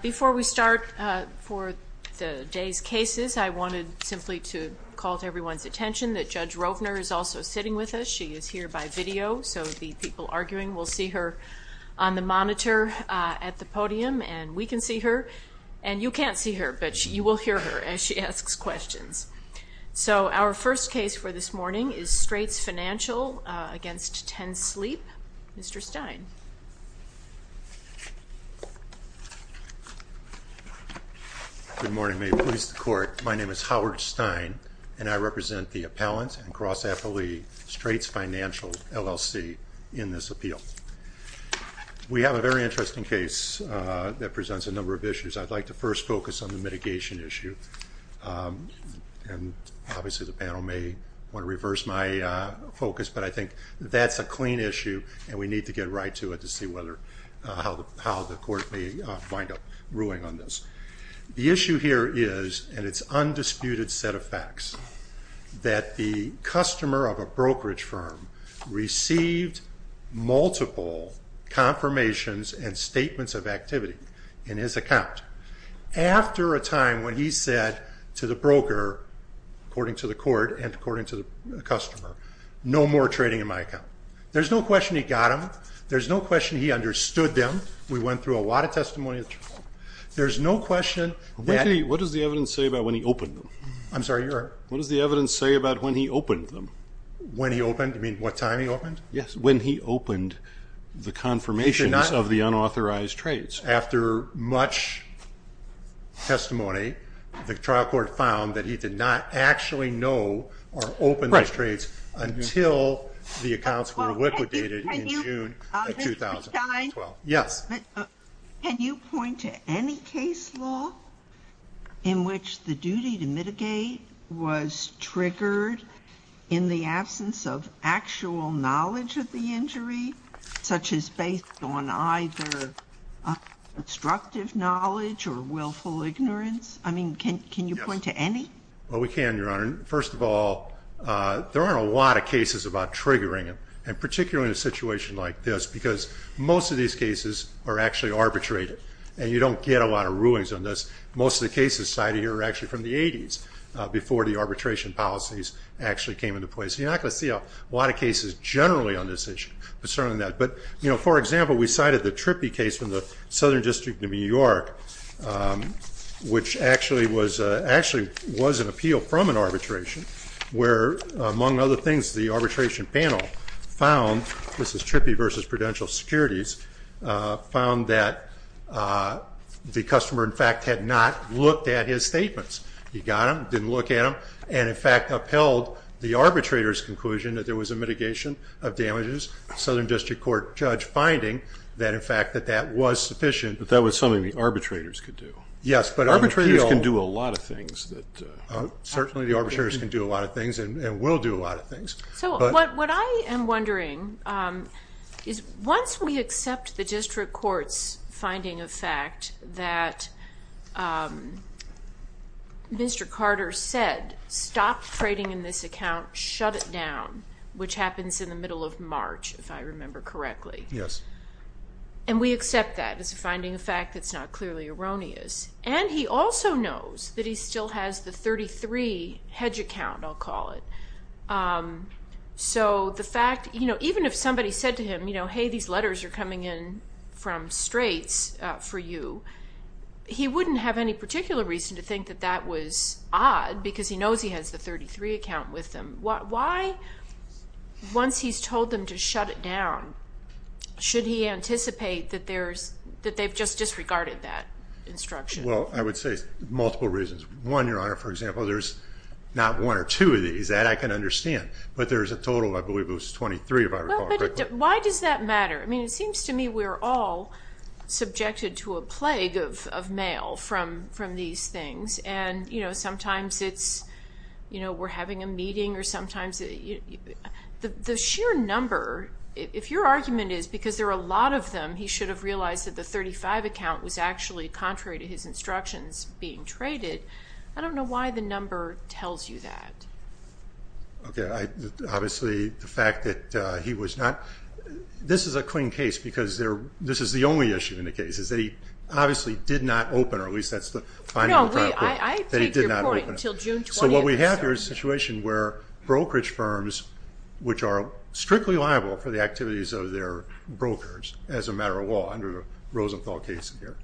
Before we start for the day's cases, I wanted simply to call to everyone's attention that Judge Rovner is also sitting with us. She is here by video, so the people arguing will see her on the monitor at the podium, and we can see her. And you can't see her, but you will hear her as she asks questions. So our first case for this morning is Straits Financial v. Ten Sleep. Mr. Stein. Good morning. May it please the Court. My name is Howard Stein, and I represent the appellant and cross-athlete Straits Financial LLC in this appeal. We have a very interesting case that presents a number of issues. I'd like to first focus on the mitigation issue. And obviously the panel may want to reverse my focus, but I think that's a clean issue, and we need to get right to it to see how the Court may wind up ruling on this. The issue here is, and it's undisputed set of facts, that the customer of a brokerage firm received multiple confirmations and statements of activity in his account after a time when he said to the broker, according to the Court and according to the customer, no more trading in my account. There's no question he got them. There's no question he understood them. We went through a lot of testimony. There's no question that— What does the evidence say about when he opened them? I'm sorry, your— What does the evidence say about when he opened them? When he opened? You mean what time he opened? Yes, when he opened the confirmations of the unauthorized trades. After much testimony, the trial court found that he did not actually know or open those trades until the accounts were liquidated in June 2012. Yes? Can you point to any case law in which the duty to mitigate was triggered in the absence of actual knowledge of the injury, such as based on either obstructive knowledge or willful ignorance? I mean, can you point to any? Well, we can, your Honor. First of all, there aren't a lot of cases about triggering it, and particularly in a situation like this, because most of these cases are actually arbitrated, and you don't get a lot of rulings on this. Most of the cases cited here are actually from the 80s, before the arbitration policies actually came into place. You're not going to see a lot of cases generally on this issue concerning that. But for example, we cited the Trippi case from the Southern District of New York, which actually was an appeal from an arbitration, where, among other things, the arbitration panel found, this is Trippi v. Prudential Securities, found that the customer, in fact, had not looked at his statements. He got them, didn't look at them, and, in fact, upheld the arbitrator's conclusion that there was a mitigation of damages. Southern District Court judge finding that, in fact, that that was sufficient. But that was something the arbitrators could do. Yes, but on the appeal- Arbitrators can do a lot of things that- Certainly, the arbitrators can do a lot of things and will do a lot of things. So what I am wondering is, once we accept the district court's finding of fact that Mr. Carter said, stop trading in this account, shut it down, which happens in the middle of March, if I remember correctly. Yes. And we accept that as a finding of fact that's not clearly erroneous. And he also knows that he still has the 33 hedge account, I'll call it. So the fact, even if somebody said to him, hey, these letters are coming in from Straits for you, he wouldn't have any particular reason to think that that was odd because he knows he has the 33 account with him. Why, once he's told them to shut it down, should he anticipate that they've just disregarded that instruction? Well, I would say multiple reasons. One, Your Honor, for example, there's not one or two of these that I can understand, but there's a total of, I believe it was 23, if I recall correctly. Why does that matter? I mean, it seems to me we're all subjected to a plague of mail from these things. And sometimes it's, you know, we're having a meeting or sometimes- The sheer number, if your argument is because there are a lot of them, he should have realized that the 35 account was actually contrary to his instructions being traded. I don't know why the number tells you that. Okay, obviously, the fact that he was not- This is a clean case because this is the only issue in the case, is that he obviously did not open, or at least that's the finding that he did not open. No, I take your point until June 20th. So what we have here is a situation where brokerage firms, which are strictly liable for the activities of their brokers, as a matter of law, under the Rosenthal case here,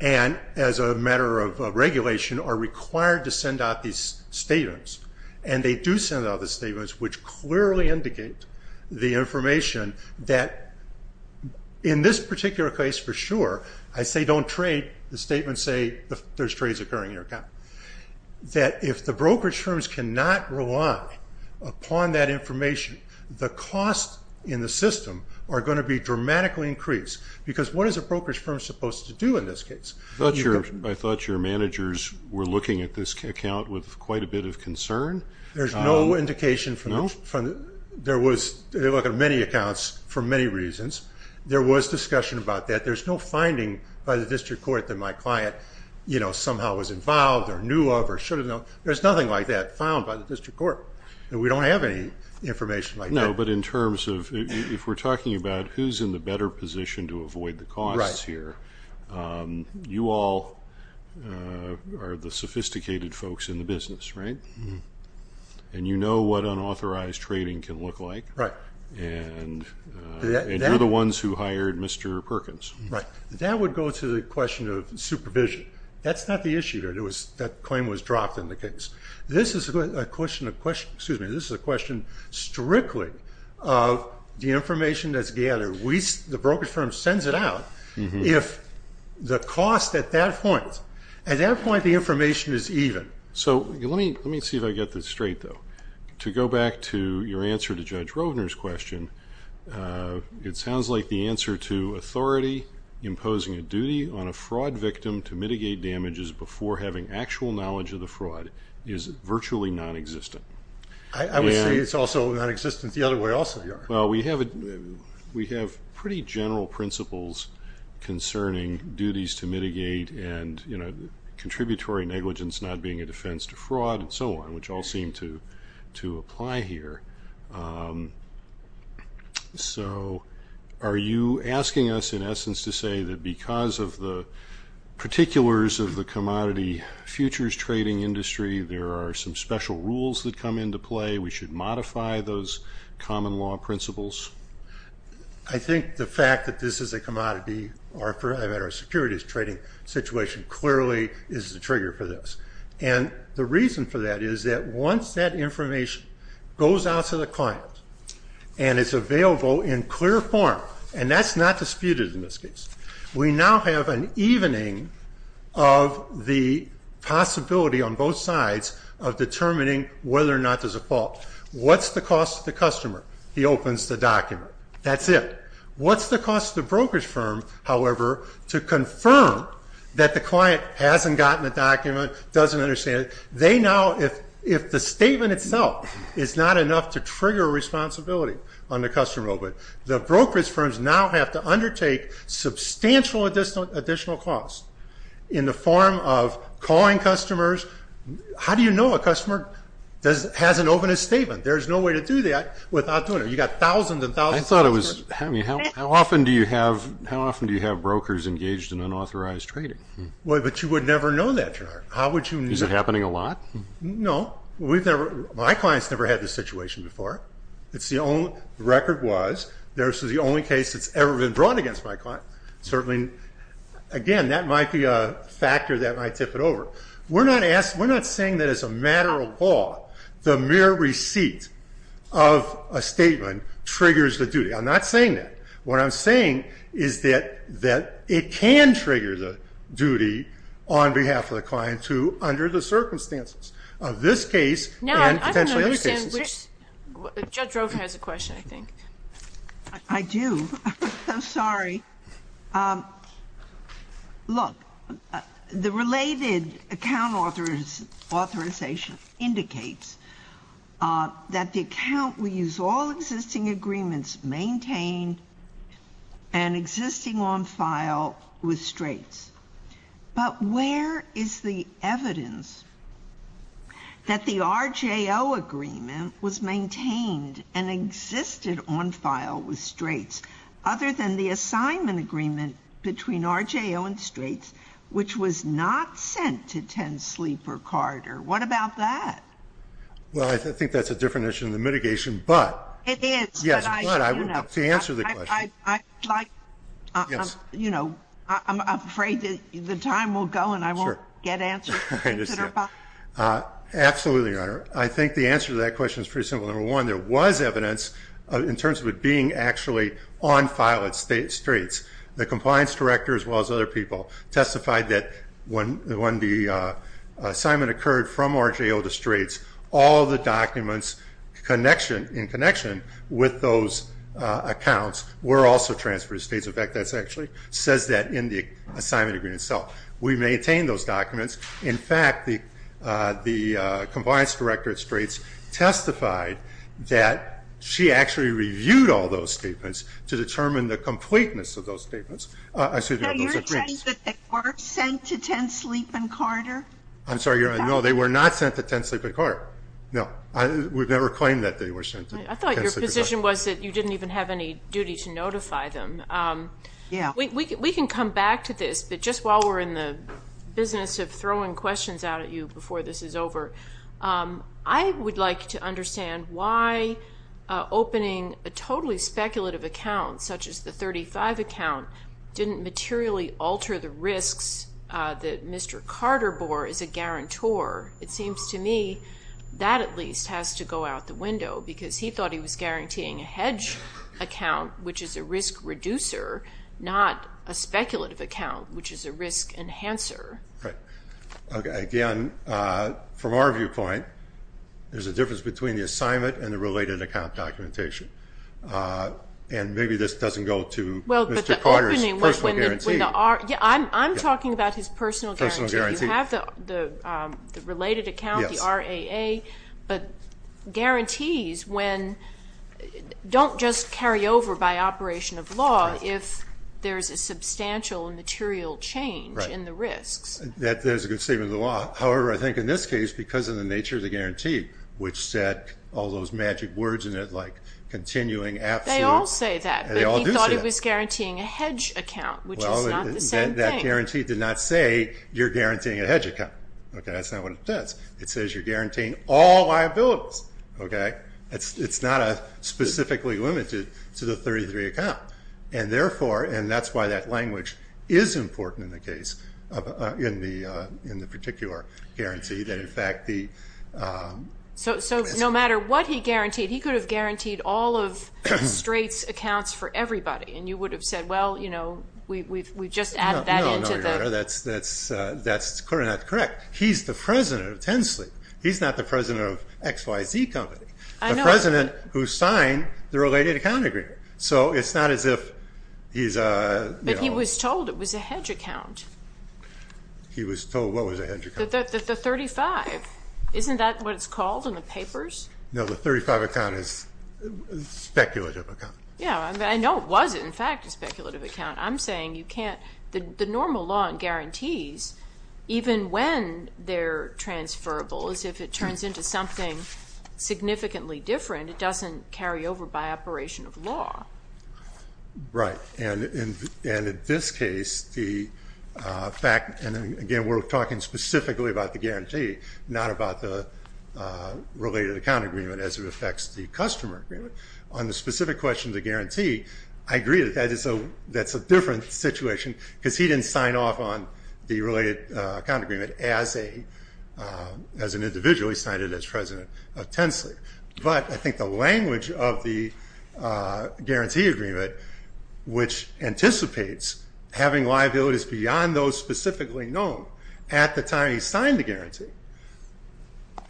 and as a matter of regulation, are required to send out these statements. And they do send out the statements, which clearly indicate the information that, in this particular case, for sure, I say don't trade. The statements say there's trades occurring in your account. That if the brokerage firms cannot rely upon that information, the costs in the system are going to be dramatically increased. Because what is a brokerage firm supposed to do in this case? I thought your managers were looking at this account with quite a bit of concern. There's no indication from- No? There was- They look at many accounts for many reasons. There was discussion about that. There's no finding by the district court that my client somehow was involved. Or knew of, or should have known. There's nothing like that found by the district court. We don't have any information like that. No, but in terms of- If we're talking about who's in the better position to avoid the costs here, you all are the sophisticated folks in the business, right? And you know what unauthorized trading can look like. Right. And you're the ones who hired Mr. Perkins. Right. That would go to the question of supervision. That's not the issue here. That claim was dropped in the case. This is a question of- Excuse me. This is a question strictly of the information that's gathered. The brokerage firm sends it out. If the cost at that point, at that point the information is even. So let me see if I get this straight though. To go back to your answer to Judge Rovner's question, it sounds like the answer to authority imposing a duty on a fraud victim to mitigate damages before having actual knowledge of the fraud is virtually non-existent. I would say it's also non-existent the other way also. Well, we have pretty general principles concerning duties to mitigate and contributory negligence not being a defense to fraud and so on, which all seem to apply here. So are you asking us in essence to say that because of the particulars of the commodity futures trading industry, there are some special rules that come into play? We should modify those common law principles? I think the fact that this is a commodity, or for that matter a securities trading situation, clearly is the trigger for this. And the reason for that is that once that information goes out to the client and is available in clear form, and that's not disputed in this case, we now have an evening of the possibility on both sides of determining whether or not there's a fault. What's the cost to the customer? He opens the document. That's it. What's the cost to the brokerage firm, however, to confirm that the client hasn't gotten the document, doesn't understand it? They now, if the statement itself is not enough to trigger responsibility on the customer, the brokerage firms now have to undertake substantial additional cost in the form of calling customers. How do you know a customer hasn't opened a statement? There's no way to do that without doing it. You've got thousands and thousands of customers. I thought it was, how often do you have brokers engaged in unauthorized trading? Well, but you would never know that, Gerard. Is it happening a lot? No. My client's never had this situation before. The record was, this is the only case that's ever been brought against my client. Certainly, again, that might be a factor that might tip it over. We're not saying that as a matter of law, the mere receipt of a statement triggers the duty. I'm not saying that. What I'm saying is that it can trigger the duty on behalf of the client to under the circumstances of this case and potentially other cases. Judge Roker has a question, I think. I do. I'm sorry. Look, the related account authorization indicates that the account will use all existing agreements maintained and existing on file with Straits. But where is the evidence that the RJO agreement was maintained and existed on file with Straits other than the assignment agreement between RJO and Straits, which was not sent to Ten Sleeper Corridor? What about that? Well, I think that's a different issue in the mitigation, but- It is. Yes, but to answer the question- I'd like- You know, I'm afraid that the time will go and I won't get answers. Absolutely, Your Honor. I think the answer to that question is pretty simple. Number one, there was evidence in terms of it being actually on file at Straits. The compliance director, as well as other people, testified that when the assignment occurred from RJO to Straits, all the documents in connection with those accounts were also transferred to Straits. In fact, that actually says that in the assignment agreement itself. We maintained those documents. In fact, the compliance director at Straits testified that she actually reviewed all those statements to determine the completeness of those agreements. So you're saying that they were sent to Ten Sleeper Corridor? I'm sorry, Your Honor. No, they were not sent to Ten Sleeper Corridor. No, we've never claimed that they were sent to Ten Sleeper Corridor. I thought your position was that you didn't even have any duty to notify them. Yeah. We can come back to this, but just while we're in the business of throwing questions out at you before this is over, I would like to understand why opening a totally speculative account, such as the 35 account, didn't materially alter the risks that Mr. Carter bore as a guarantor. It seems to me that at least has to go out the window, because he thought he was guaranteeing a hedge account, which is a risk reducer, not a speculative account, which is a risk enhancer. Right. Again, from our viewpoint, there's a difference between the assignment and the related account documentation. And maybe this doesn't go to Mr. Carter's personal guarantee. Yeah, I'm talking about his personal guarantee. You have the related account, the RAA, but guarantees don't just carry over by operation of law if there's a substantial material change in the risks. That is a good statement of the law. However, I think in this case, because of the nature of the guarantee, which said all They all say that, but he thought he was guaranteeing a hedge account, which is not the same thing. Well, that guarantee did not say you're guaranteeing a hedge account. That's not what it says. It says you're guaranteeing all liabilities. It's not specifically limited to the 33 account. And that's why that language is important in the particular guarantee. So no matter what he guaranteed, he could have guaranteed all of Strait's accounts for everybody. And you would have said, well, we've just added that into the No, that's clearly not correct. He's the president of Tensley. He's not the president of XYZ Company. The president who signed the related account agreement. So it's not as if he's But he was told it was a hedge account. He was told what was a hedge account? The 35. Isn't that what it's called in the papers? No, the 35 account is a speculative account. Yeah, I know it was, in fact, a speculative account. I'm saying you can't the normal law and guarantees, even when they're transferable, as if it turns into something significantly different. It doesn't carry over by operation of law. Right. And in this case, the fact, and again, we're talking specifically about the guarantee, not about the related account agreement as it affects the customer agreement. On the specific question of the guarantee, I agree that that's a different situation because he didn't sign off on the related account agreement as an individual. He signed it as president of Tensley. But I think the language of the guarantee agreement, which anticipates having liabilities beyond those specifically known at the time he signed the guarantee,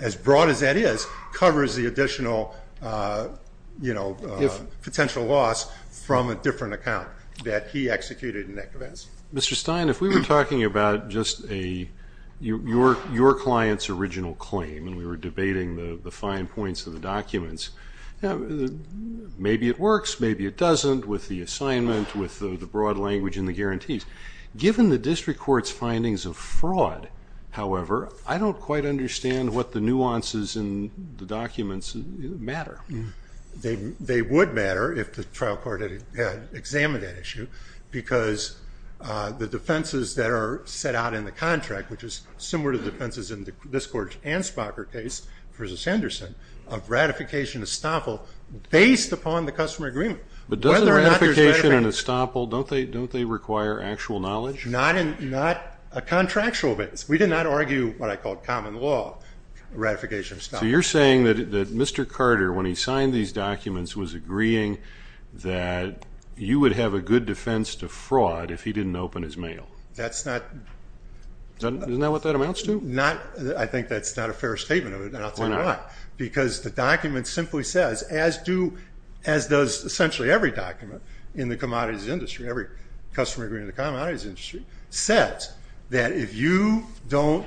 as broad as that is, covers the additional potential loss from a different account that he executed in that case. Mr. Stein, if we were talking about just your client's original claim, and we were debating the fine points of the documents, maybe it works, maybe it doesn't with the assignment, with the broad language in the guarantees. Given the district court's findings of fraud, however, I don't quite understand what the nuances in the documents matter. They would matter if the trial court had examined that issue, because the defenses that are set out in the contract, which is similar to the defenses in this court and Spocker case versus Henderson, of ratification and estoppel based upon the customer agreement. But doesn't ratification and estoppel, don't they require actual knowledge? Not in a contractual base. We did not argue what I call common law ratification and estoppel. So you're saying that Mr. Carter, when he signed these documents, was agreeing that you would have a good defense to fraud if he didn't open his mail. That's not... Isn't that what that amounts to? Not, I think that's not a fair statement of it, and I'll tell you why. Because the document simply says, as does essentially every document in the commodities industry, every customer agreement in the commodities industry, says that if you don't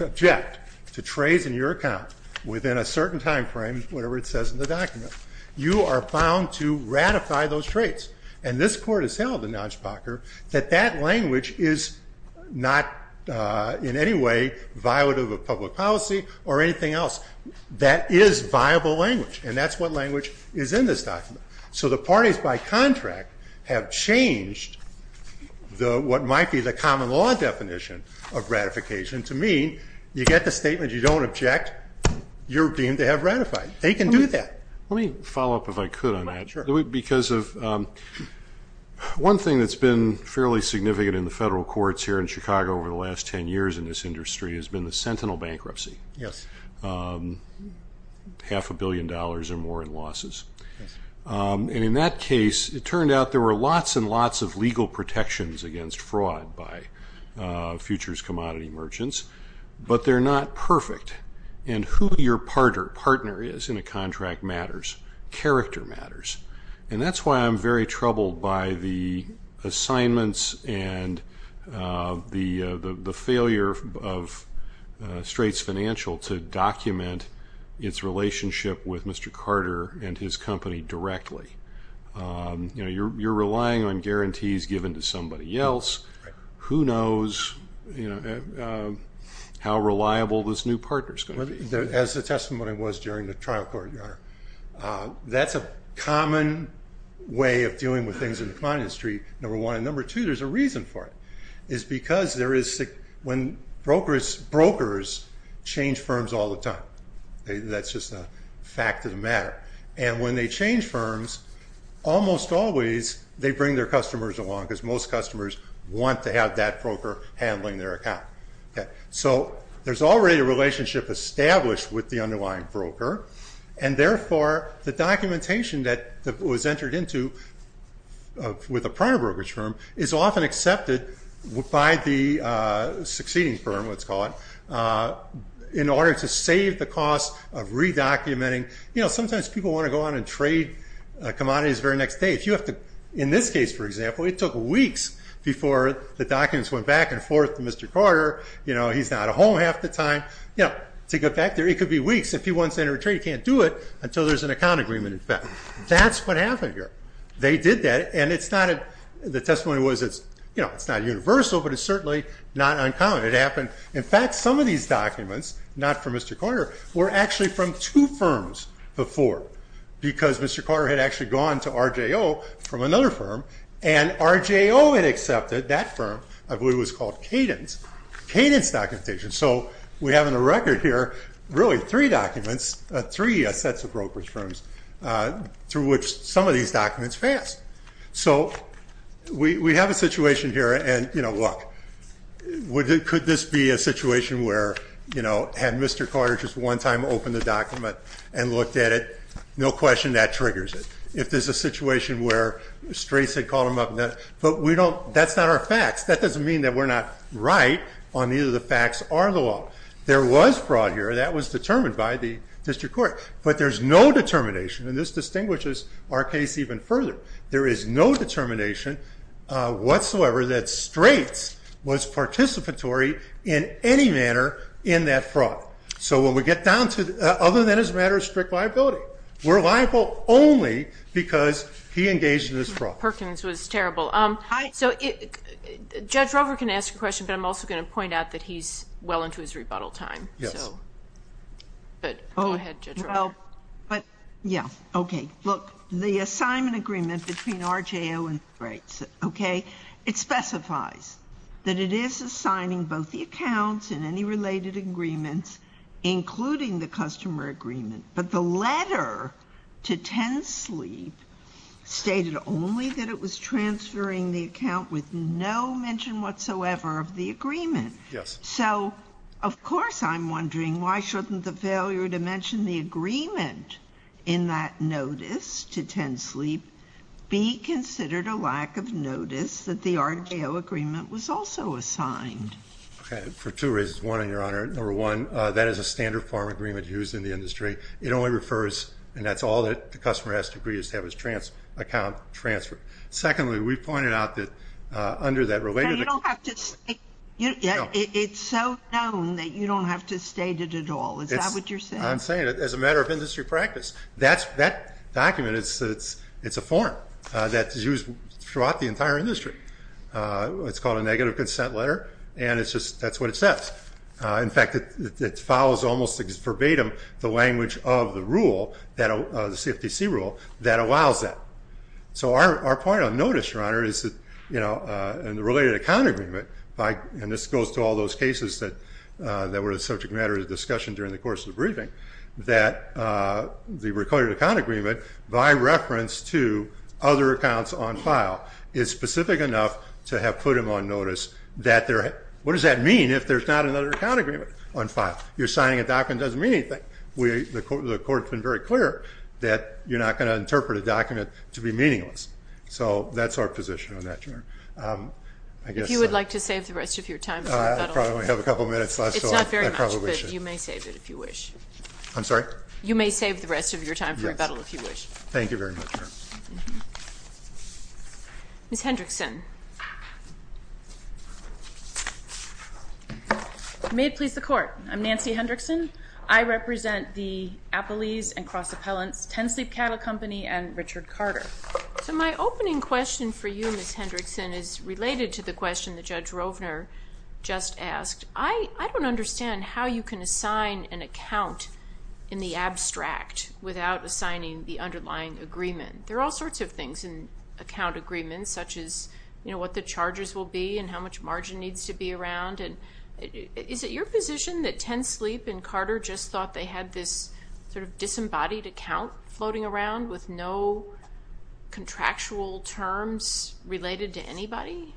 object to trades in your account within a certain time frame, whatever it says in the document, you are bound to ratify those trades. And this court has held in Nijbocker that that language is not in any way violative of public policy or anything else. That is viable language, and that's what language is in this document. So the parties by contract have changed what might be the common law definition of ratification to mean you get the statement, you don't object, you're deemed to have ratified. They can do that. Let me follow up if I could on that. Sure. Because of one thing that's been fairly significant in the federal courts here in Chicago over the last 10 years in this industry has been the sentinel bankruptcy. Yes. Half a billion dollars or more in losses. And in that case, it turned out there were lots and lots of legal protections against fraud by futures commodity merchants, but they're not perfect. And who your partner is in a contract matters. Character matters. And that's why I'm very troubled by the assignments and the failure of Straits Financial to document its relationship with Mr. Carter and his company directly. You know, you're relying on guarantees given to somebody else. Who knows, you know, how reliable this new partner is going to be? That's a common way of dealing with things in the commodity industry, number one. And number two, there's a reason for it. It's because there is when brokers change firms all the time. That's just a fact of the matter. And when they change firms, almost always they bring their customers along because most customers want to have that broker handling their account. So there's already a relationship established with the underlying broker. And therefore, the documentation that was entered into with a prior brokerage firm is often accepted by the succeeding firm, let's call it, in order to save the cost of re-documenting. You know, sometimes people want to go on and trade commodities very next day. In this case, for example, it took weeks before the documents went back and forth to Mr. Carter. You know, he's not at home half the time. You know, to get back there, it could be weeks. If he wants to enter a trade, he can't do it until there's an account agreement, in fact. That's what happened here. They did that. And it's not a—the testimony was it's, you know, it's not universal, but it's certainly not uncommon. It happened—in fact, some of these documents, not from Mr. Carter, were actually from two firms before because Mr. Carter had actually gone to RJO from another firm. And RJO had accepted that firm. I believe it was called Cadence. Cadence documentation. So we have on the record here, really, three documents, three sets of brokerage firms through which some of these documents passed. So we have a situation here, and, you know, look, could this be a situation where, you know, had Mr. Carter just one time opened the document and looked at it? No question, that triggers it. If there's a situation where Straits had called him up, but we don't—that's not our facts. That doesn't mean that we're not right on either the facts or the law. There was fraud here. That was determined by the district court. But there's no determination, and this distinguishes our case even further, there is no determination whatsoever that Straits was participatory in any manner in that fraud. So when we get down to—other than as a matter of strict liability, we're liable only because he engaged in this fraud. Perkins was terrible. So Judge Rover can ask a question, but I'm also going to point out that he's well into his rebuttal time. Yes. But go ahead, Judge Rover. Yeah, okay. Look, the assignment agreement between RJO and Straits, okay, it specifies that it is assigning both the accounts and any related agreements, including the customer agreement, but the letter to Tensleep stated only that it was transferring the account with no mention whatsoever of the agreement. Yes. So of course I'm wondering, why shouldn't the failure to mention the agreement in that notice to Tensleep be considered a lack of notice that the RJO agreement was also assigned? Okay, for two reasons. One, Your Honor, number one, that is a standard form agreement used in the industry. It only refers—and that's all that the customer has to agree is to have his account transferred. Secondly, we pointed out that under that related— But you don't have to—it's so known that you don't have to state it at all. Is that what you're saying? I'm saying that as a matter of industry practice. That document, it's a form that's used throughout the entire industry. It's called a negative consent letter, and it's just—that's what it says. In fact, it follows almost verbatim the language of the rule, the CFTC rule, that allows that. So our point on notice, Your Honor, is that in the related account agreement, and this goes to all those cases that were a subject matter of discussion during the course of the briefing, that the recorded account agreement, by reference to other accounts on file, is specific enough to have put them on notice. What does that mean if there's not another account agreement on file? You're signing a document that doesn't mean anything. The court's been very clear that you're not going to interpret a document to be meaningless. So that's our position on that, Your Honor. If you would like to save the rest of your time for rebuttal— I probably have a couple minutes left, so I probably should. It's not very much, but you may save it if you wish. I'm sorry? You may save the rest of your time for rebuttal if you wish. Thank you very much, Your Honor. Ms. Hendrickson. You may please the court. I'm Nancy Hendrickson. I represent the Appellees and Cross Appellants, Ten Sleep Cattle Company and Richard Carter. So my opening question for you, Ms. Hendrickson, is related to the question that Judge Rovner just asked. I don't understand how you can assign an account in the abstract without assigning the underlying agreement. There are all sorts of things in account agreements, such as what the charges will be and how much margin needs to be around. Is it your position that Ten Sleep and Carter just thought they had this sort of disembodied account floating around with no contractual terms related to anybody?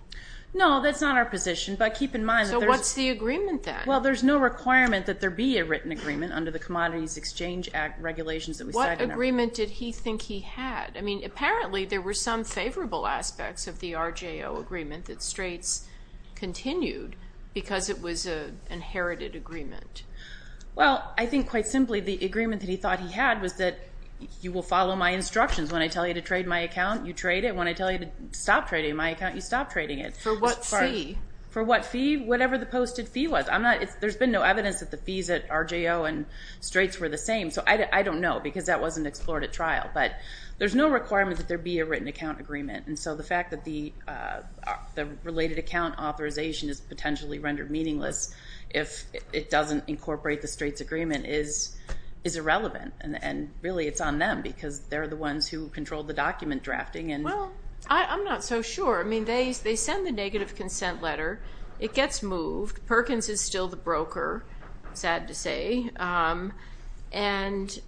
No, that's not our position. But keep in mind— So what's the agreement, then? Well, there's no requirement that there be a written agreement under the Commodities Exchange Act regulations that we cited. What agreement did he think he had? Apparently, there were some favorable aspects of the RJO agreement that Straits continued because it was an inherited agreement. Well, I think, quite simply, the agreement that he thought he had was that you will follow my instructions. When I tell you to trade my account, you trade it. When I tell you to stop trading my account, you stop trading it. For what fee? For what fee? Whatever the posted fee was. There's been no evidence that the fees at RJO and Straits were the same. So I don't know because that wasn't explored at trial. But there's no requirement that there be a written account agreement. And so the fact that the related account authorization is potentially rendered meaningless if it doesn't incorporate the Straits agreement is irrelevant. And really, it's on them because they're the ones who control the document drafting and— Well, I'm not so sure. I mean, they send the negative consent letter. It gets moved. Perkins is still the broker, sad to say. And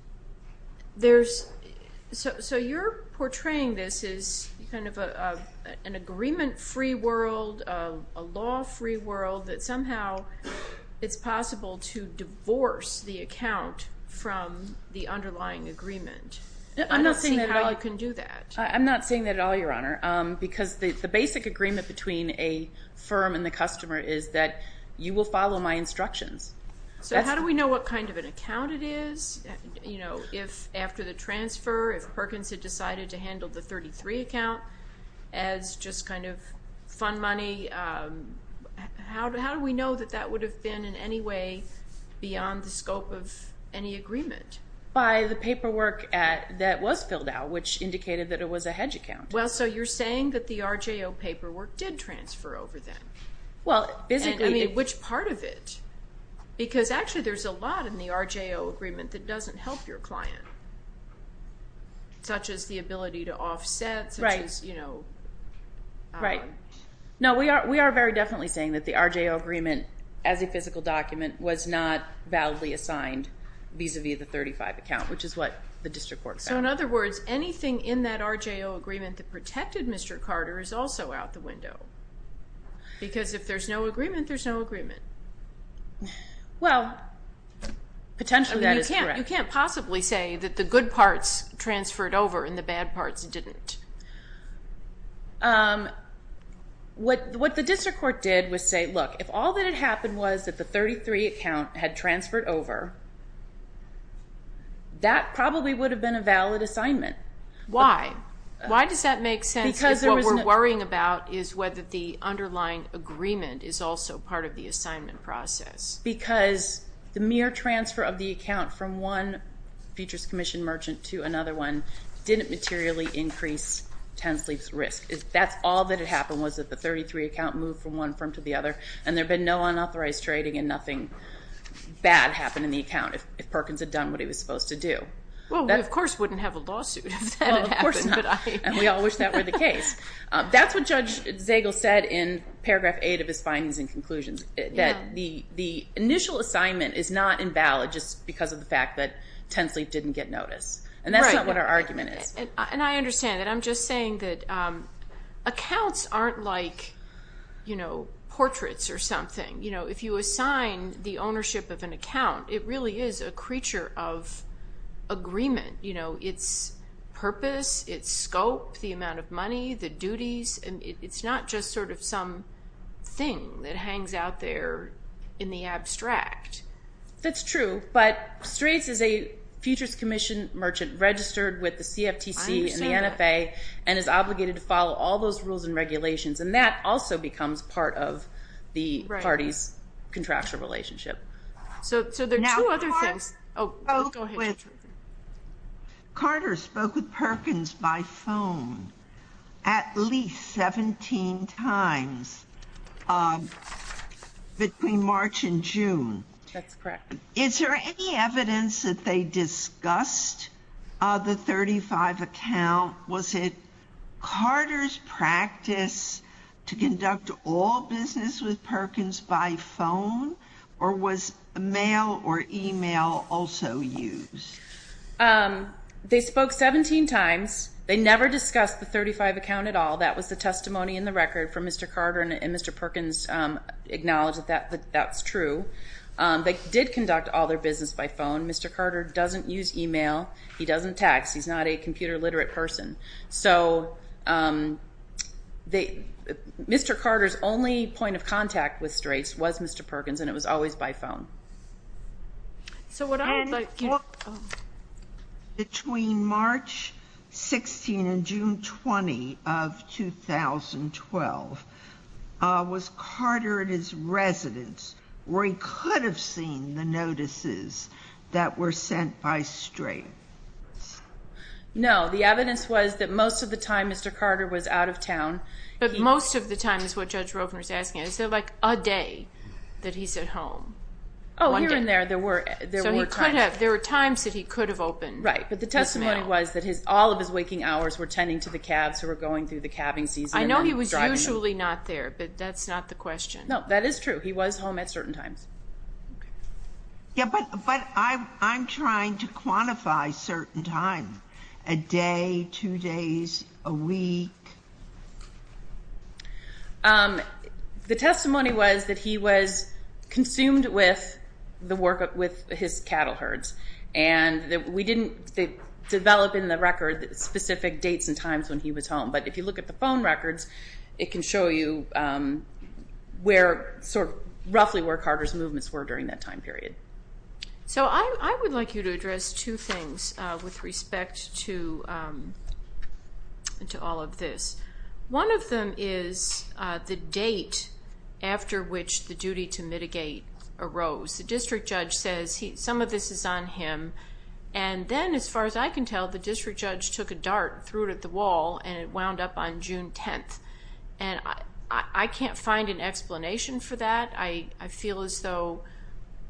so you're portraying this as kind of an agreement-free world, a law-free world that somehow it's possible to divorce the account from the underlying agreement. I'm not seeing how you can do that. I'm not seeing that at all, Your Honor, because the basic agreement between a firm and the customer is that you will follow my instructions. So how do we know what kind of an account it is? You know, if after the transfer, if Perkins had decided to handle the 33 account as just kind of fun money, how do we know that that would have been in any way beyond the scope of any agreement? By the paperwork that was filled out, which indicated that it was a hedge account. Well, so you're saying that the RJO paperwork did transfer over then? Well, physically— because actually there's a lot in the RJO agreement that doesn't help your client, such as the ability to offset, such as, you know— Right. No, we are very definitely saying that the RJO agreement as a physical document was not validly assigned vis-a-vis the 35 account, which is what the district court found. So in other words, anything in that RJO agreement that protected Mr. Carter is also out the window. Because if there's no agreement, there's no agreement. Well, potentially that is correct. You can't possibly say that the good parts transferred over and the bad parts didn't. What the district court did was say, look, if all that had happened was that the 33 account had transferred over, that probably would have been a valid assignment. Why? Why does that make sense? Because there was no— If what we're worrying about is whether the underlying agreement is also part of the assignment process. Because the mere transfer of the account from one futures commission merchant to another one didn't materially increase Tensleep's risk. That's all that had happened was that the 33 account moved from one firm to the other, and there had been no unauthorized trading and nothing bad happened in the account if Perkins had done what he was supposed to do. Well, we of course wouldn't have a lawsuit if that had happened. Well, of course not. And we all wish that were the case. That's what Judge Zagel said in paragraph 8 of his findings and conclusions, that the initial assignment is not invalid just because of the fact that Tensleep didn't get notice. And that's not what our argument is. And I understand that. I'm just saying that accounts aren't like, you know, portraits or something. You know, if you assign the ownership of an account, it really is a creature of agreement. You know, its purpose, its scope, the amount of money, the duties. And it's not just sort of some thing that hangs out there in the abstract. That's true. But Straits is a Futures Commission merchant registered with the CFTC and the NFA and is obligated to follow all those rules and regulations. And that also becomes part of the party's contractual relationship. So there are two other things. Oh, go ahead. Carter spoke with Perkins by phone at least 17 times. Between March and June. That's correct. Is there any evidence that they discussed the 35 account? Was it Carter's practice to conduct all business with Perkins by phone? Or was mail or email also used? They spoke 17 times. They never discussed the 35 account at all. That was the testimony in the record from Mr. Carter and Mr. Perkins acknowledged that that's true. They did conduct all their business by phone. Mr. Carter doesn't use email. He doesn't text. He's not a computer literate person. So Mr. Carter's only point of contact with Straits was Mr. Perkins. And it was always by phone. And between March 16 and June 20 of 2012, was Carter at his residence where he could have seen the notices that were sent by Straits? No, the evidence was that most of the time, Mr. Carter was out of town. But most of the time is what Judge Rovner is asking. Is there like a day that he's at home? Oh, here and there. There were times that he could have opened. Right, but the testimony was that all of his waking hours were tending to the cabs who were going through the cabbing season. I know he was usually not there, but that's not the question. No, that is true. He was home at certain times. Yeah, but I'm trying to quantify certain time. A day, two days, a week. The testimony was that he was consumed with his cattle herds. And we didn't develop in the record specific dates and times when he was home. But if you look at the phone records, it can show you roughly where Carter's movements were during that time period. So I would like you to address two things with respect to all of this. One of them is the date after which the duty to mitigate arose. The district judge says some of this is on him. And then as far as I can tell, the district judge took a dart, threw it at the wall, and it wound up on June 10th. And I can't find an explanation for that. I feel as though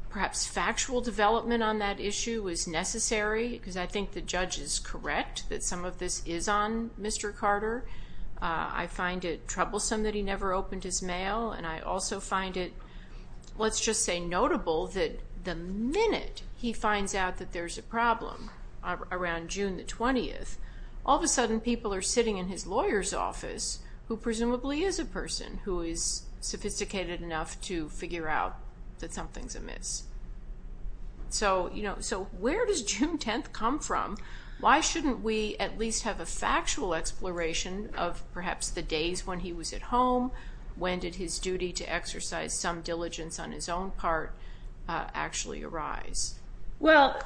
perhaps factual development on that issue was necessary because I think the judge is correct that some of this is on Mr. Carter. I find it troublesome that he never opened his mail. And I also find it, let's just say notable, that the minute he finds out that there's a problem around June the 20th, all of a sudden people are sitting in his lawyer's office who presumably is a person who is sophisticated enough to figure out that something's amiss. So where does June 10th come from? Why shouldn't we at least have a factual exploration of perhaps the days when he was at home? When did his duty to exercise some diligence on his own part actually arise? Well,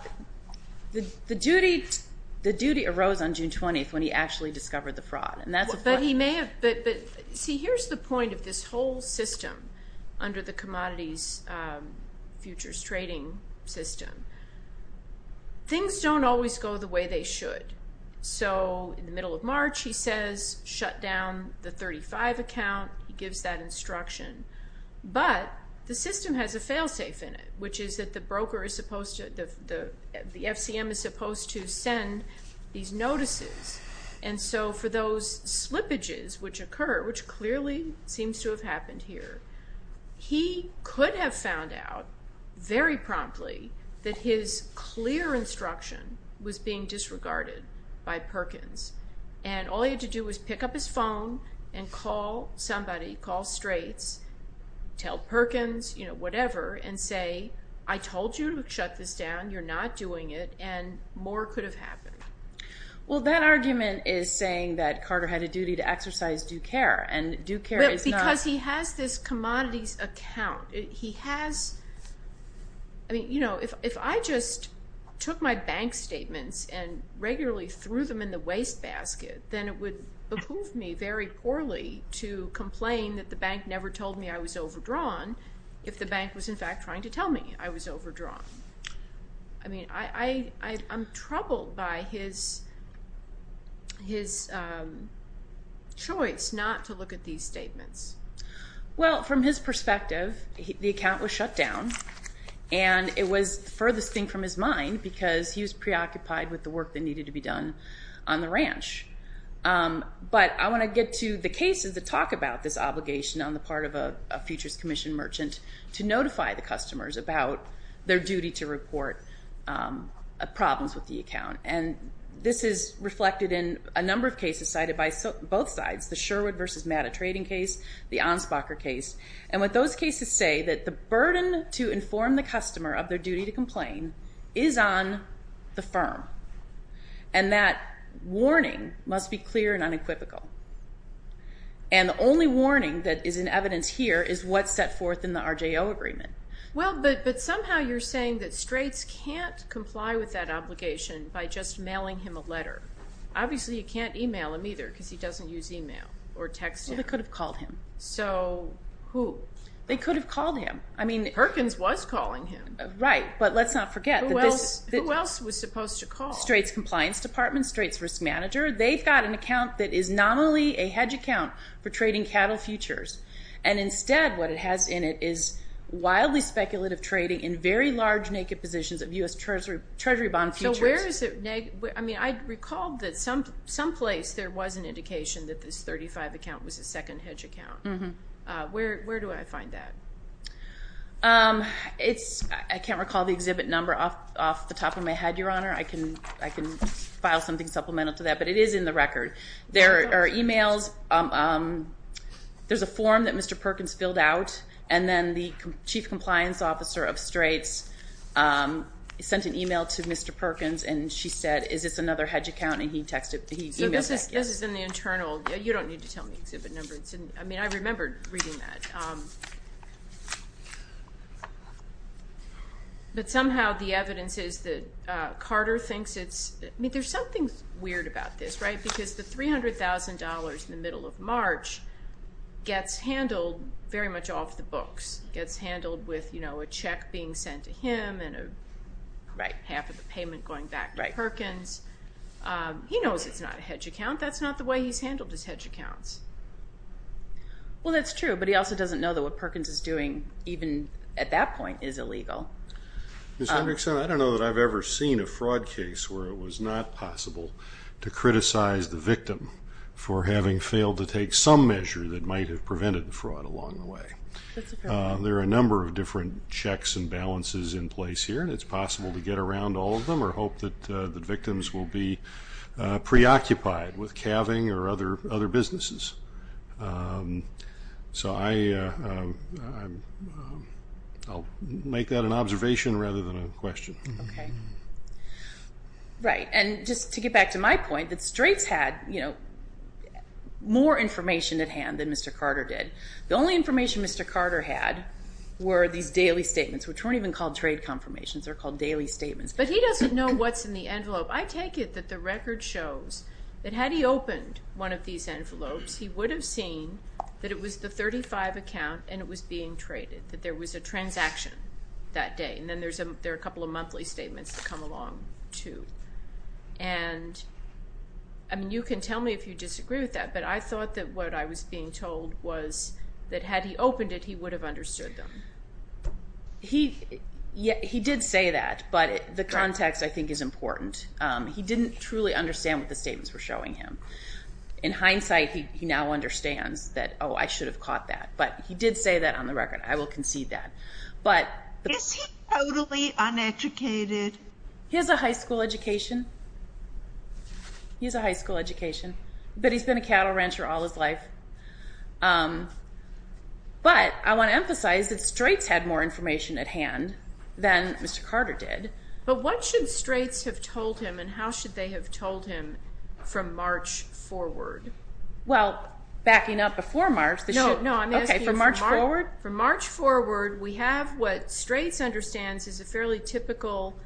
the duty arose on June 20th when he actually discovered the fraud. But he may have, but see here's the point of this whole system under the commodities futures trading system. Things don't always go the way they should. So in the middle of March, he says shut down the 35 account. He gives that instruction. But the system has a fail safe in it, which is that the broker is supposed to, the FCM is supposed to send these notices. And so for those slippages which occur, which clearly seems to have happened here, he could have found out very promptly that his clear instruction was being disregarded. By Perkins. And all he had to do was pick up his phone and call somebody, call straights, tell Perkins, you know, whatever, and say, I told you to shut this down. You're not doing it. And more could have happened. Well, that argument is saying that Carter had a duty to exercise due care and due care is not- Because he has this commodities account. He has, I mean, you know, if I just took my bank statements and regularly threw them in the wastebasket, then it would behoove me very poorly to complain that the bank never told me I was overdrawn if the bank was in fact trying to tell me I was overdrawn. I mean, I'm troubled by his choice not to look at these statements. Well, from his perspective, the account was shut down and it was furthest thing from his mind because he was preoccupied with the work that needed to be done on the ranch. But I want to get to the cases that talk about this obligation on the part of a futures commission merchant to notify the customers about their duty to report problems with the account. And this is reflected in a number of cases cited by both sides, the Sherwood versus Matta trading case, the Anspacher case. And what those cases say, that the burden to inform the customer of their duty to complain is on the firm. And that warning must be clear and unequivocal. And the only warning that is in evidence here is what's set forth in the RJO agreement. Well, but somehow you're saying that straights can't comply with that obligation by just mailing him a letter. Obviously, you can't email him either because he doesn't use email or texting. Well, they could have called him. So who? They could have called him. I mean, Perkins was calling him. Right, but let's not forget that this- Who else was supposed to call? Straights Compliance Department, Straits Risk Manager. They've got an account that is not only a hedge account for trading cattle futures. And instead, what it has in it is wildly speculative trading in very large naked positions of US Treasury bond futures. So where is it? I mean, I recalled that some place there was an indication that this 35 account was a second hedge account. Where do I find that? It's, I can't recall the exhibit number off the top of my head, Your Honor. I can file something supplemental to that, but it is in the record. There are emails. There's a form that Mr. Perkins filled out. And then the Chief Compliance Officer of Straits sent an email to Mr. Perkins. And she said, is this another hedge account? And he texted, he emailed back, yes. So this is in the internal. You don't need to tell me exhibit numbers. I mean, I remembered reading that. But somehow the evidence is that Carter thinks it's, I mean, there's something weird about this, right? Because the $300,000 in the middle of March gets handled very much off the books, gets handled with a check being sent to him and half of the payment going back to Perkins. He knows it's not a hedge account. That's not the way he's handled his hedge accounts. Well, that's true. But he also doesn't know that what Perkins is doing even at that point is illegal. Ms. Hendrickson, I don't know that I've ever seen a fraud case where it was not possible to criticize the victim for having failed to take some measure that might have prevented the fraud along the way. There are a number of different checks and balances in place here. And it's possible to get around all of them or hope that the victims will be preoccupied with calving or other businesses. So I'll make that an observation rather than a question. Okay. Right. And just to get back to my point, that Straits had more information at hand than Mr. Carter did. The only information Mr. Carter had were these daily statements, which weren't even called trade confirmations. They're called daily statements. But he doesn't know what's in the envelope. I take it that the record shows that had he opened one of these envelopes he would have seen that it was the 35 account and it was being traded, that there was a transaction that day. And then there are a couple of monthly statements that come along too. And I mean, you can tell me if you disagree with that, but I thought that what I was being told was that had he opened it, he would have understood them. He did say that, but the context I think is important. He didn't truly understand what the statements were showing him. In hindsight, he now understands that, oh, I should have caught that. But he did say that on the record. I will concede that. But- Is he totally uneducated? He has a high school education. He has a high school education. But he's been a cattle rancher all his life. But I want to emphasize that Straits had more information at hand than Mr. Carter did. But what should Straits have told him and how should they have told him from March forward? Well, backing up before March- No, no, I'm asking- For March forward? For March forward, we have what Straits understands is a fairly typical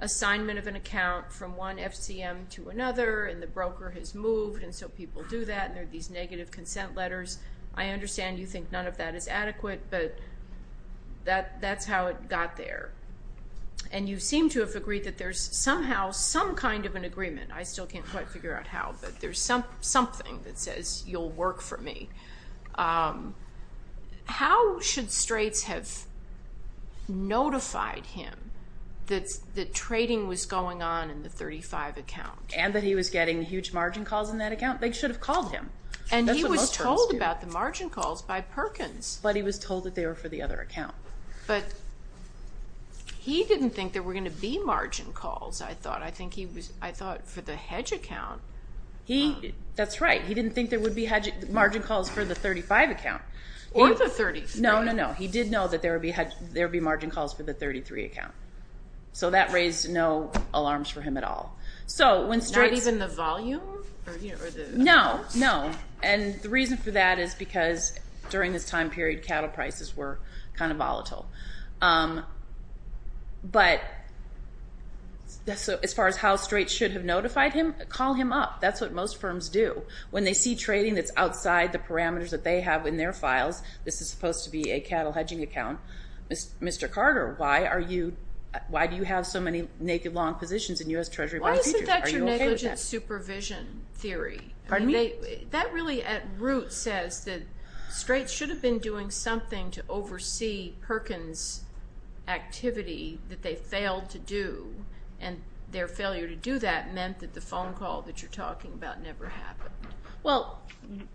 assignment of an account from one FCM to another. And the broker has moved. And so people do that. And there are these negative consent letters. I understand you think none of that is adequate, but that's how it got there. And you seem to have agreed that there's somehow some kind of an agreement. I still can't quite figure out how, but there's something that says you'll work for me. How should Straits have notified him that the trading was going on in the 35 account? And that he was getting huge margin calls in that account? They should have called him. And he was told about the margin calls by Perkins. But he was told that they were for the other account. But he didn't think there were going to be margin calls, I think he was, I thought, for the hedge account. That's right. He didn't think there would be margin calls for the 35 account. Or the 33. No, no, no. He did know that there would be margin calls for the 33 account. So that raised no alarms for him at all. So when Straits- Not even the volume? No, no. And the reason for that is because during this time period, cattle prices were kind of volatile. But as far as how Straits should have notified him, call him up. That's what most firms do. When they see trading that's outside the parameters that they have in their files, this is supposed to be a cattle hedging account, Mr. Carter, why are you, why do you have so many naked long positions in U.S. Treasury bond futures? Why isn't that your negligent supervision theory? Pardon me? That really at root says that Straits should have been doing something to oversee Perkins' activity that they failed to do. And their failure to do that meant that the phone call that you're talking about never happened. Well,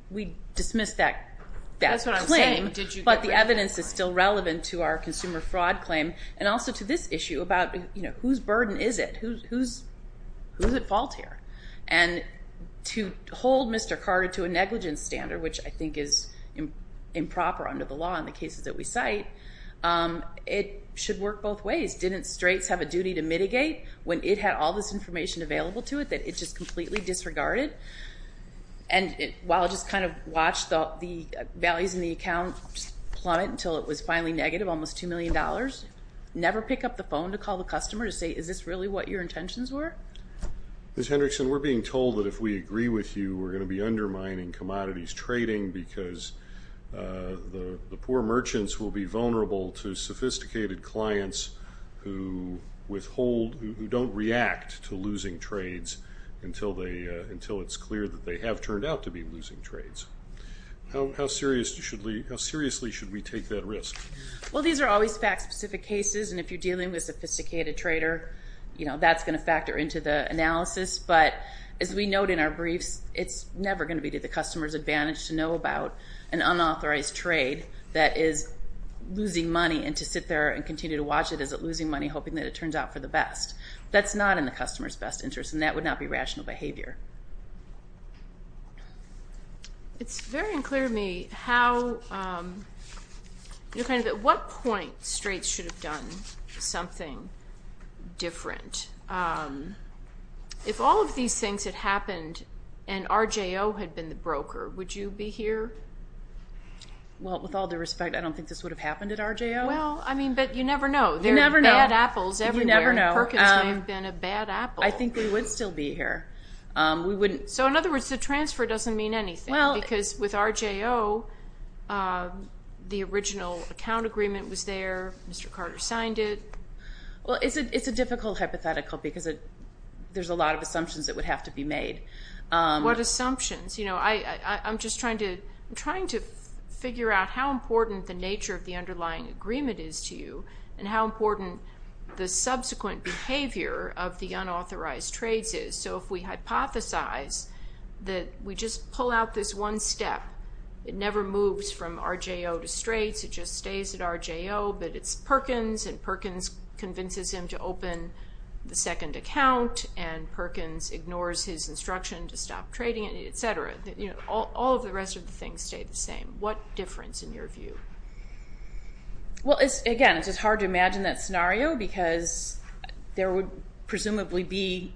we dismissed that claim. That's what I'm saying. But the evidence is still relevant to our consumer fraud claim. And also to this issue about whose burden is it? Who's at fault here? And to hold Mr. Carter to a negligence standard, which I think is improper under the law in the cases that we cite, it should work both ways. Didn't Straits have a duty to mitigate when it had all this information available to it that it just completely disregarded? And while it just kind of watched the values in the account plummet until it was finally negative, almost $2 million, never pick up the phone to call the customer to say, is this really what your intentions were? Ms. Hendrickson, we're being told that if we agree with you, we're going to be undermining commodities trading because the poor merchants will be vulnerable to sophisticated clients who don't react to losing trades until it's clear that they have turned out to be losing trades. How seriously should we take that risk? Well, these are always fact-specific cases. And if you're dealing with a sophisticated trader, that's going to factor into the analysis. But as we note in our briefs, it's never going to be to the customer's advantage to know about an unauthorized trade that is losing money and to sit there and continue to watch it as it's losing money, hoping that it turns out for the best. That's not in the customer's best interest and that would not be rational behavior. It's very unclear to me how, you know, kind of at what point Straits should have done something different. If all of these things had happened and RJO had been the broker, would you be here? Well, with all due respect, I don't think this would have happened at RJO. Well, I mean, but you never know. You never know. There are bad apples everywhere. You never know. Perkins may have been a bad apple. I think we would still be here. So in other words, the transfer doesn't mean anything because with RJO, the original account agreement was there. Mr. Carter signed it. Well, it's a difficult hypothetical because there's a lot of assumptions that would have to be made. What assumptions? You know, I'm just trying to figure out how important the nature of the underlying agreement is to you and how important the subsequent behavior of the unauthorized trades is. So if we hypothesize that we just pull out this one step, it never moves from RJO to Straits. It just stays at RJO, but it's Perkins and Perkins convinces him to open the second account and Perkins ignores his instruction to stop trading, et cetera. All of the rest of the things stay the same. What difference in your view? Well, again, it's just hard to imagine that scenario because there would presumably be,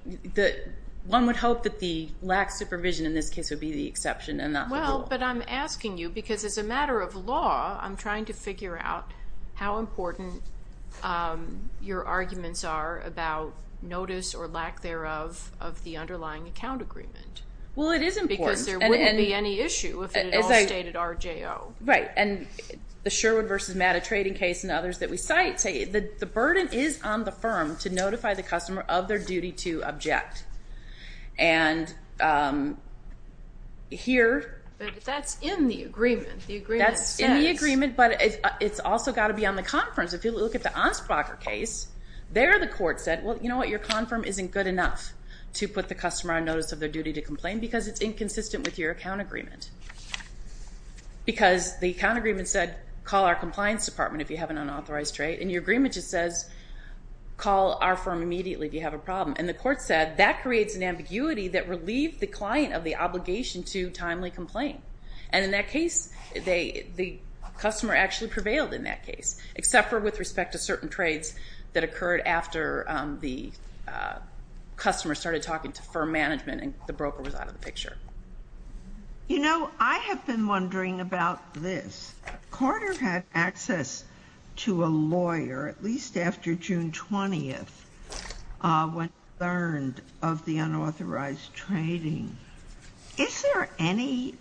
one would hope that the lax supervision in this case would be the exception and not the rule. Well, but I'm asking you because as a matter of law, I'm trying to figure out how important your arguments are about notice or lack thereof of the underlying account agreement. Well, it is important. Because there wouldn't be any issue if it had all stayed at RJO. Right, and the Sherwood versus Matta trading case and others that we cite say the burden is on the firm to notify the customer of their duty to object. And here- That's in the agreement. The agreement says- That's in the agreement, but it's also got to be on the conference. If you look at the Anspracher case, there the court said, well, you know what? Your con firm isn't good enough to put the customer on notice of their duty to complain because it's inconsistent with your account agreement. Because the account agreement said, call our compliance department if you have an unauthorized trade. In your agreement it says, call our firm immediately if you have a problem. And the court said, that creates an ambiguity that relieved the client of the obligation to timely complain. And in that case, the customer actually prevailed in that case, except for with respect to certain trades that occurred after the customer started talking to firm management and the broker was out of the picture. You know, I have been wondering about this. Carter had access to a lawyer at least after June 20th when he learned of the unauthorized trading. Is there any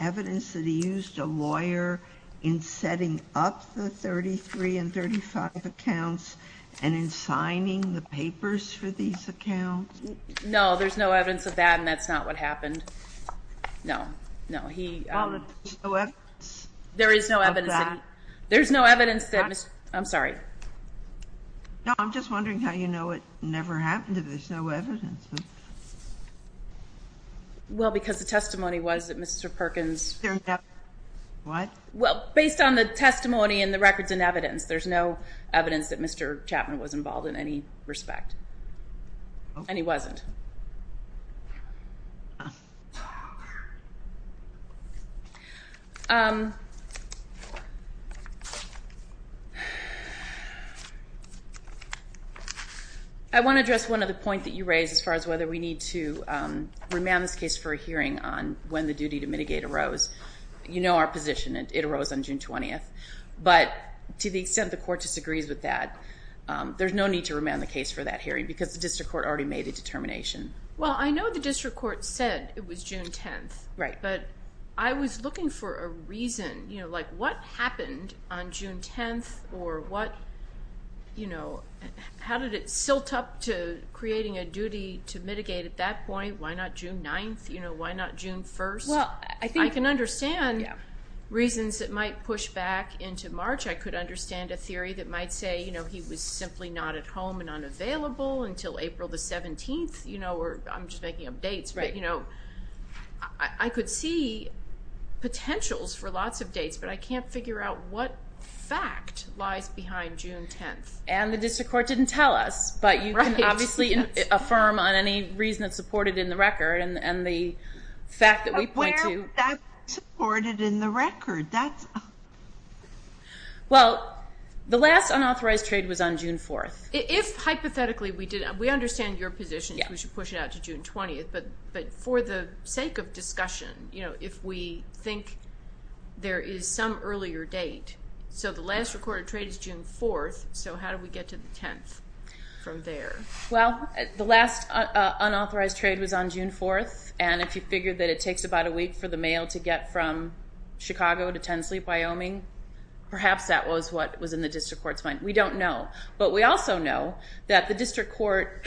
evidence that he used a lawyer in setting up the 33 and 35 accounts and in signing the papers for these accounts? No, there's no evidence of that and that's not what happened. No, no. There is no evidence of that? There's no evidence that, I'm sorry. No, I'm just wondering how you know it never happened, if there's no evidence. Well, because the testimony was that Mr. Perkins. What? Well, based on the testimony and the records and evidence, there's no evidence that Mr. Chapman was involved in any respect and he wasn't. I want to address one of the points that you raised as far as whether we need to remand this case for a hearing on when the duty to mitigate arose. You know our position. It arose on June 20th. But to the extent the court disagrees with that, there's no need to remand the case for that hearing because the District Court already made a determination. Well, I know the District Court said it was June 10th. Right. But I was looking for a reason, you know, like what happened on June 10th or what, you know, how did it silt up to creating a duty to mitigate at that point? Why not June 9th? You know, why not June 1st? Well, I think I can understand reasons that might push back into March. I could understand a theory that might say, you know, he was simply not at home and unavailable until April the 17th, you know, or I'm just making up dates. Right. You know, I could see potentials for lots of dates, but I can't figure out what fact lies behind June 10th. And the District Court didn't tell us, but you can obviously affirm on any reason that's supported in the record and the fact that we point to. That's supported in the record. Well, the last unauthorized trade was on June 4th. If hypothetically we did, we understand your position, we should push it out to June 20th. But but for the sake of discussion, you know, if we think there is some earlier date. So the last recorded trade is June 4th. So how do we get to the 10th from there? Well, the last unauthorized trade was on June 4th. And if you figure that it takes about a week for the mail to get from Chicago to Tensleep, Wyoming, perhaps that was what was in the District Court's mind. We don't know. But we also know that the District Court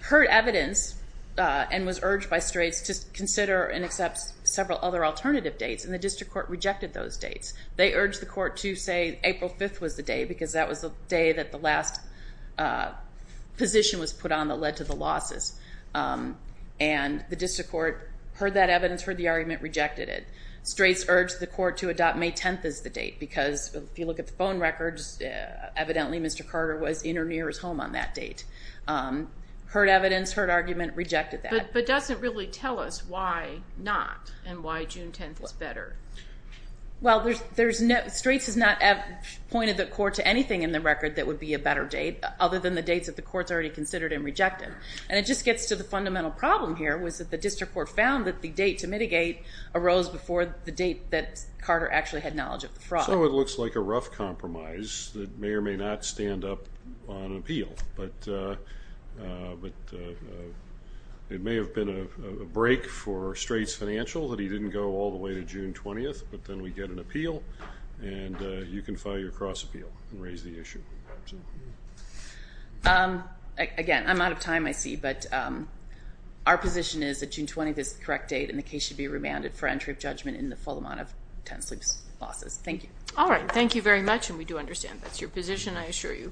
heard evidence and was urged by Straits to consider and accept several other alternative dates. And the District Court rejected those dates. They urged the court to say April 5th was the day because that was the day that the last position was put on that led to the losses. And the District Court heard that evidence, heard the argument, rejected it. Straits urged the court to adopt May 10th as the date because if you look at the phone records, evidently Mr. Carter was in or near his home on that date. Heard evidence, heard argument, rejected that. But doesn't really tell us why not and why June 10th is better? Well, Straits has not pointed the court to anything in the record that would be a better date other than the dates that the court's already considered and rejected. And it just gets to the fundamental problem here was that the District Court found that the date to mitigate arose before the date that Carter actually had knowledge of the fraud. So it looks like a rough compromise that may or may not stand up on an appeal. But it may have been a break for Straits financial that he didn't go all the way to June 20th, but then we get an appeal and you can file your cross appeal and raise the issue. Again, I'm out of time I see, but our position is that June 20th is the correct date and the case should be remanded for entry of judgment in the full amount of tenant sleep losses. Thank you. All right. Thank you very much and we do understand that's your position, I assure you.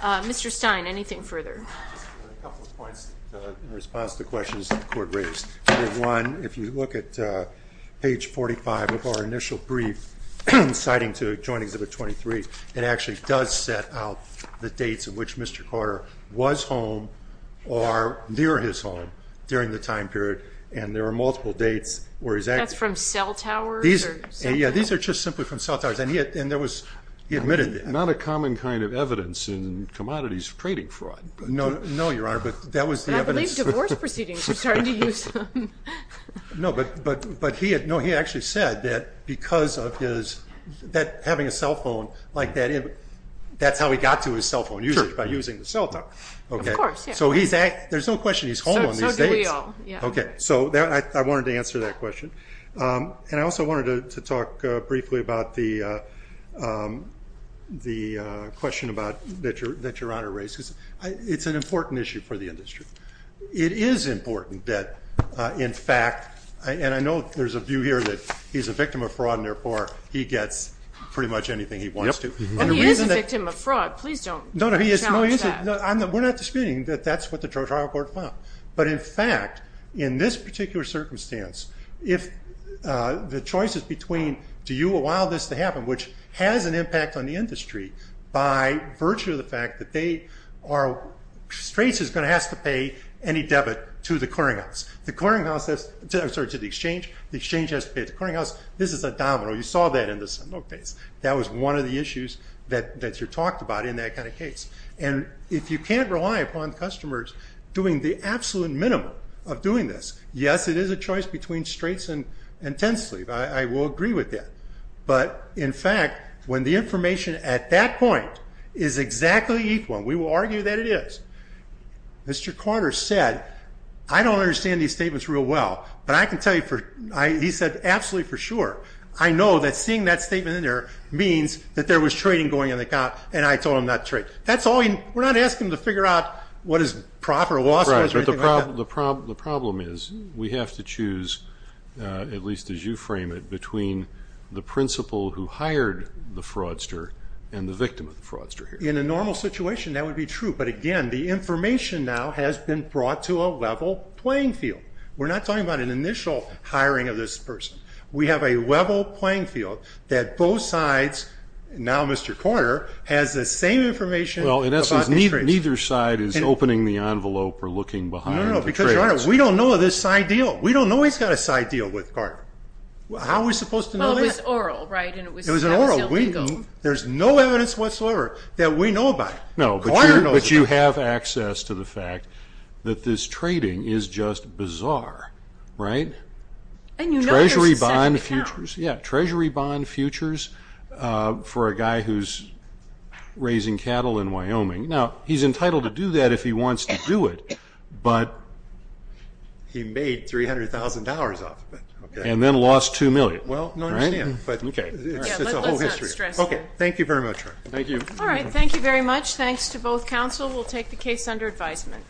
Mr. Stein, anything further? Just a couple of points in response to questions that the court raised. Number one, if you look at page 45 of our initial brief citing to joinings of the 23, it actually does set out the dates of which Mr. Carter was home or near his home during the time period and there are multiple dates where he's at. That's from cell towers? Yeah, these are just simply from cell towers and he admitted that. Not a common kind of evidence in commodities trading fraud. No, your honor, but that was the evidence. I believe divorce proceedings are starting to use them. No, but he actually said that because of his, having a cell phone like that, that's how he got to his cell phone usage by using the cell tower. Of course, yeah. So there's no question he's home on these dates. So do we all, yeah. Okay, so I wanted to answer that question and I also wanted to talk briefly about the question that your honor raised. It's an important issue for the industry. It is important that, in fact, and I know there's a view here that he's a victim of fraud and therefore he gets pretty much anything he wants to. He is a victim of fraud. Please don't challenge that. We're not disputing that that's what the trial court found. But in fact, in this particular circumstance, if the choices between do you allow this to happen, which has an impact on the industry by virtue of the fact that they are, Straits is going to have to pay any debit to the clearinghouse. The clearinghouse, I'm sorry, to the exchange. The exchange has to pay the clearinghouse. This is a domino. You saw that in the Sandok case. That was one of the issues that you talked about in that kind of case. And if you can't rely upon customers doing the absolute minimum of doing this, yes, it is a choice between Straits and Tensleave. I will agree with that. But in fact, when the information at that point is exactly equal, we will argue that it is. Mr. Carter said, I don't understand these statements real well, but I can tell you for I, he said, absolutely for sure. I know that seeing that statement in there means that there was trading going on the account. And I told him not to trade. That's all. We're not asking him to figure out what is proper law. That's right. But the problem, the problem, the problem is we have to choose at least as you frame it between the principal who hired the fraudster and the victim of the fraudster. In a normal situation, that would be true. But again, the information now has been brought to a level playing field. We're not talking about an initial hiring of this person. We have a level playing field that both sides. Now, Mr. Carter has the same information. Well, in essence, neither side is opening the envelope or looking behind. No, because we don't know this side deal. We don't know he's got a side deal with Carter. How are we supposed to know this? Well, it was oral, right? And it was still legal. It was oral. There's no evidence whatsoever that we know about it. No, but you have access to the fact that this trading is just bizarre, right? And you know there's a second account. Yeah, treasury bond futures for a guy who's raising cattle in Wyoming. Now, he's entitled to do that if he wants to do it. But he made $300,000 off of it. And then lost $2 million. Well, no, I understand. But it's a whole history. OK. Thank you very much. Thank you. All right. Thank you very much. Thanks to both counsel. We'll take the case under advisement.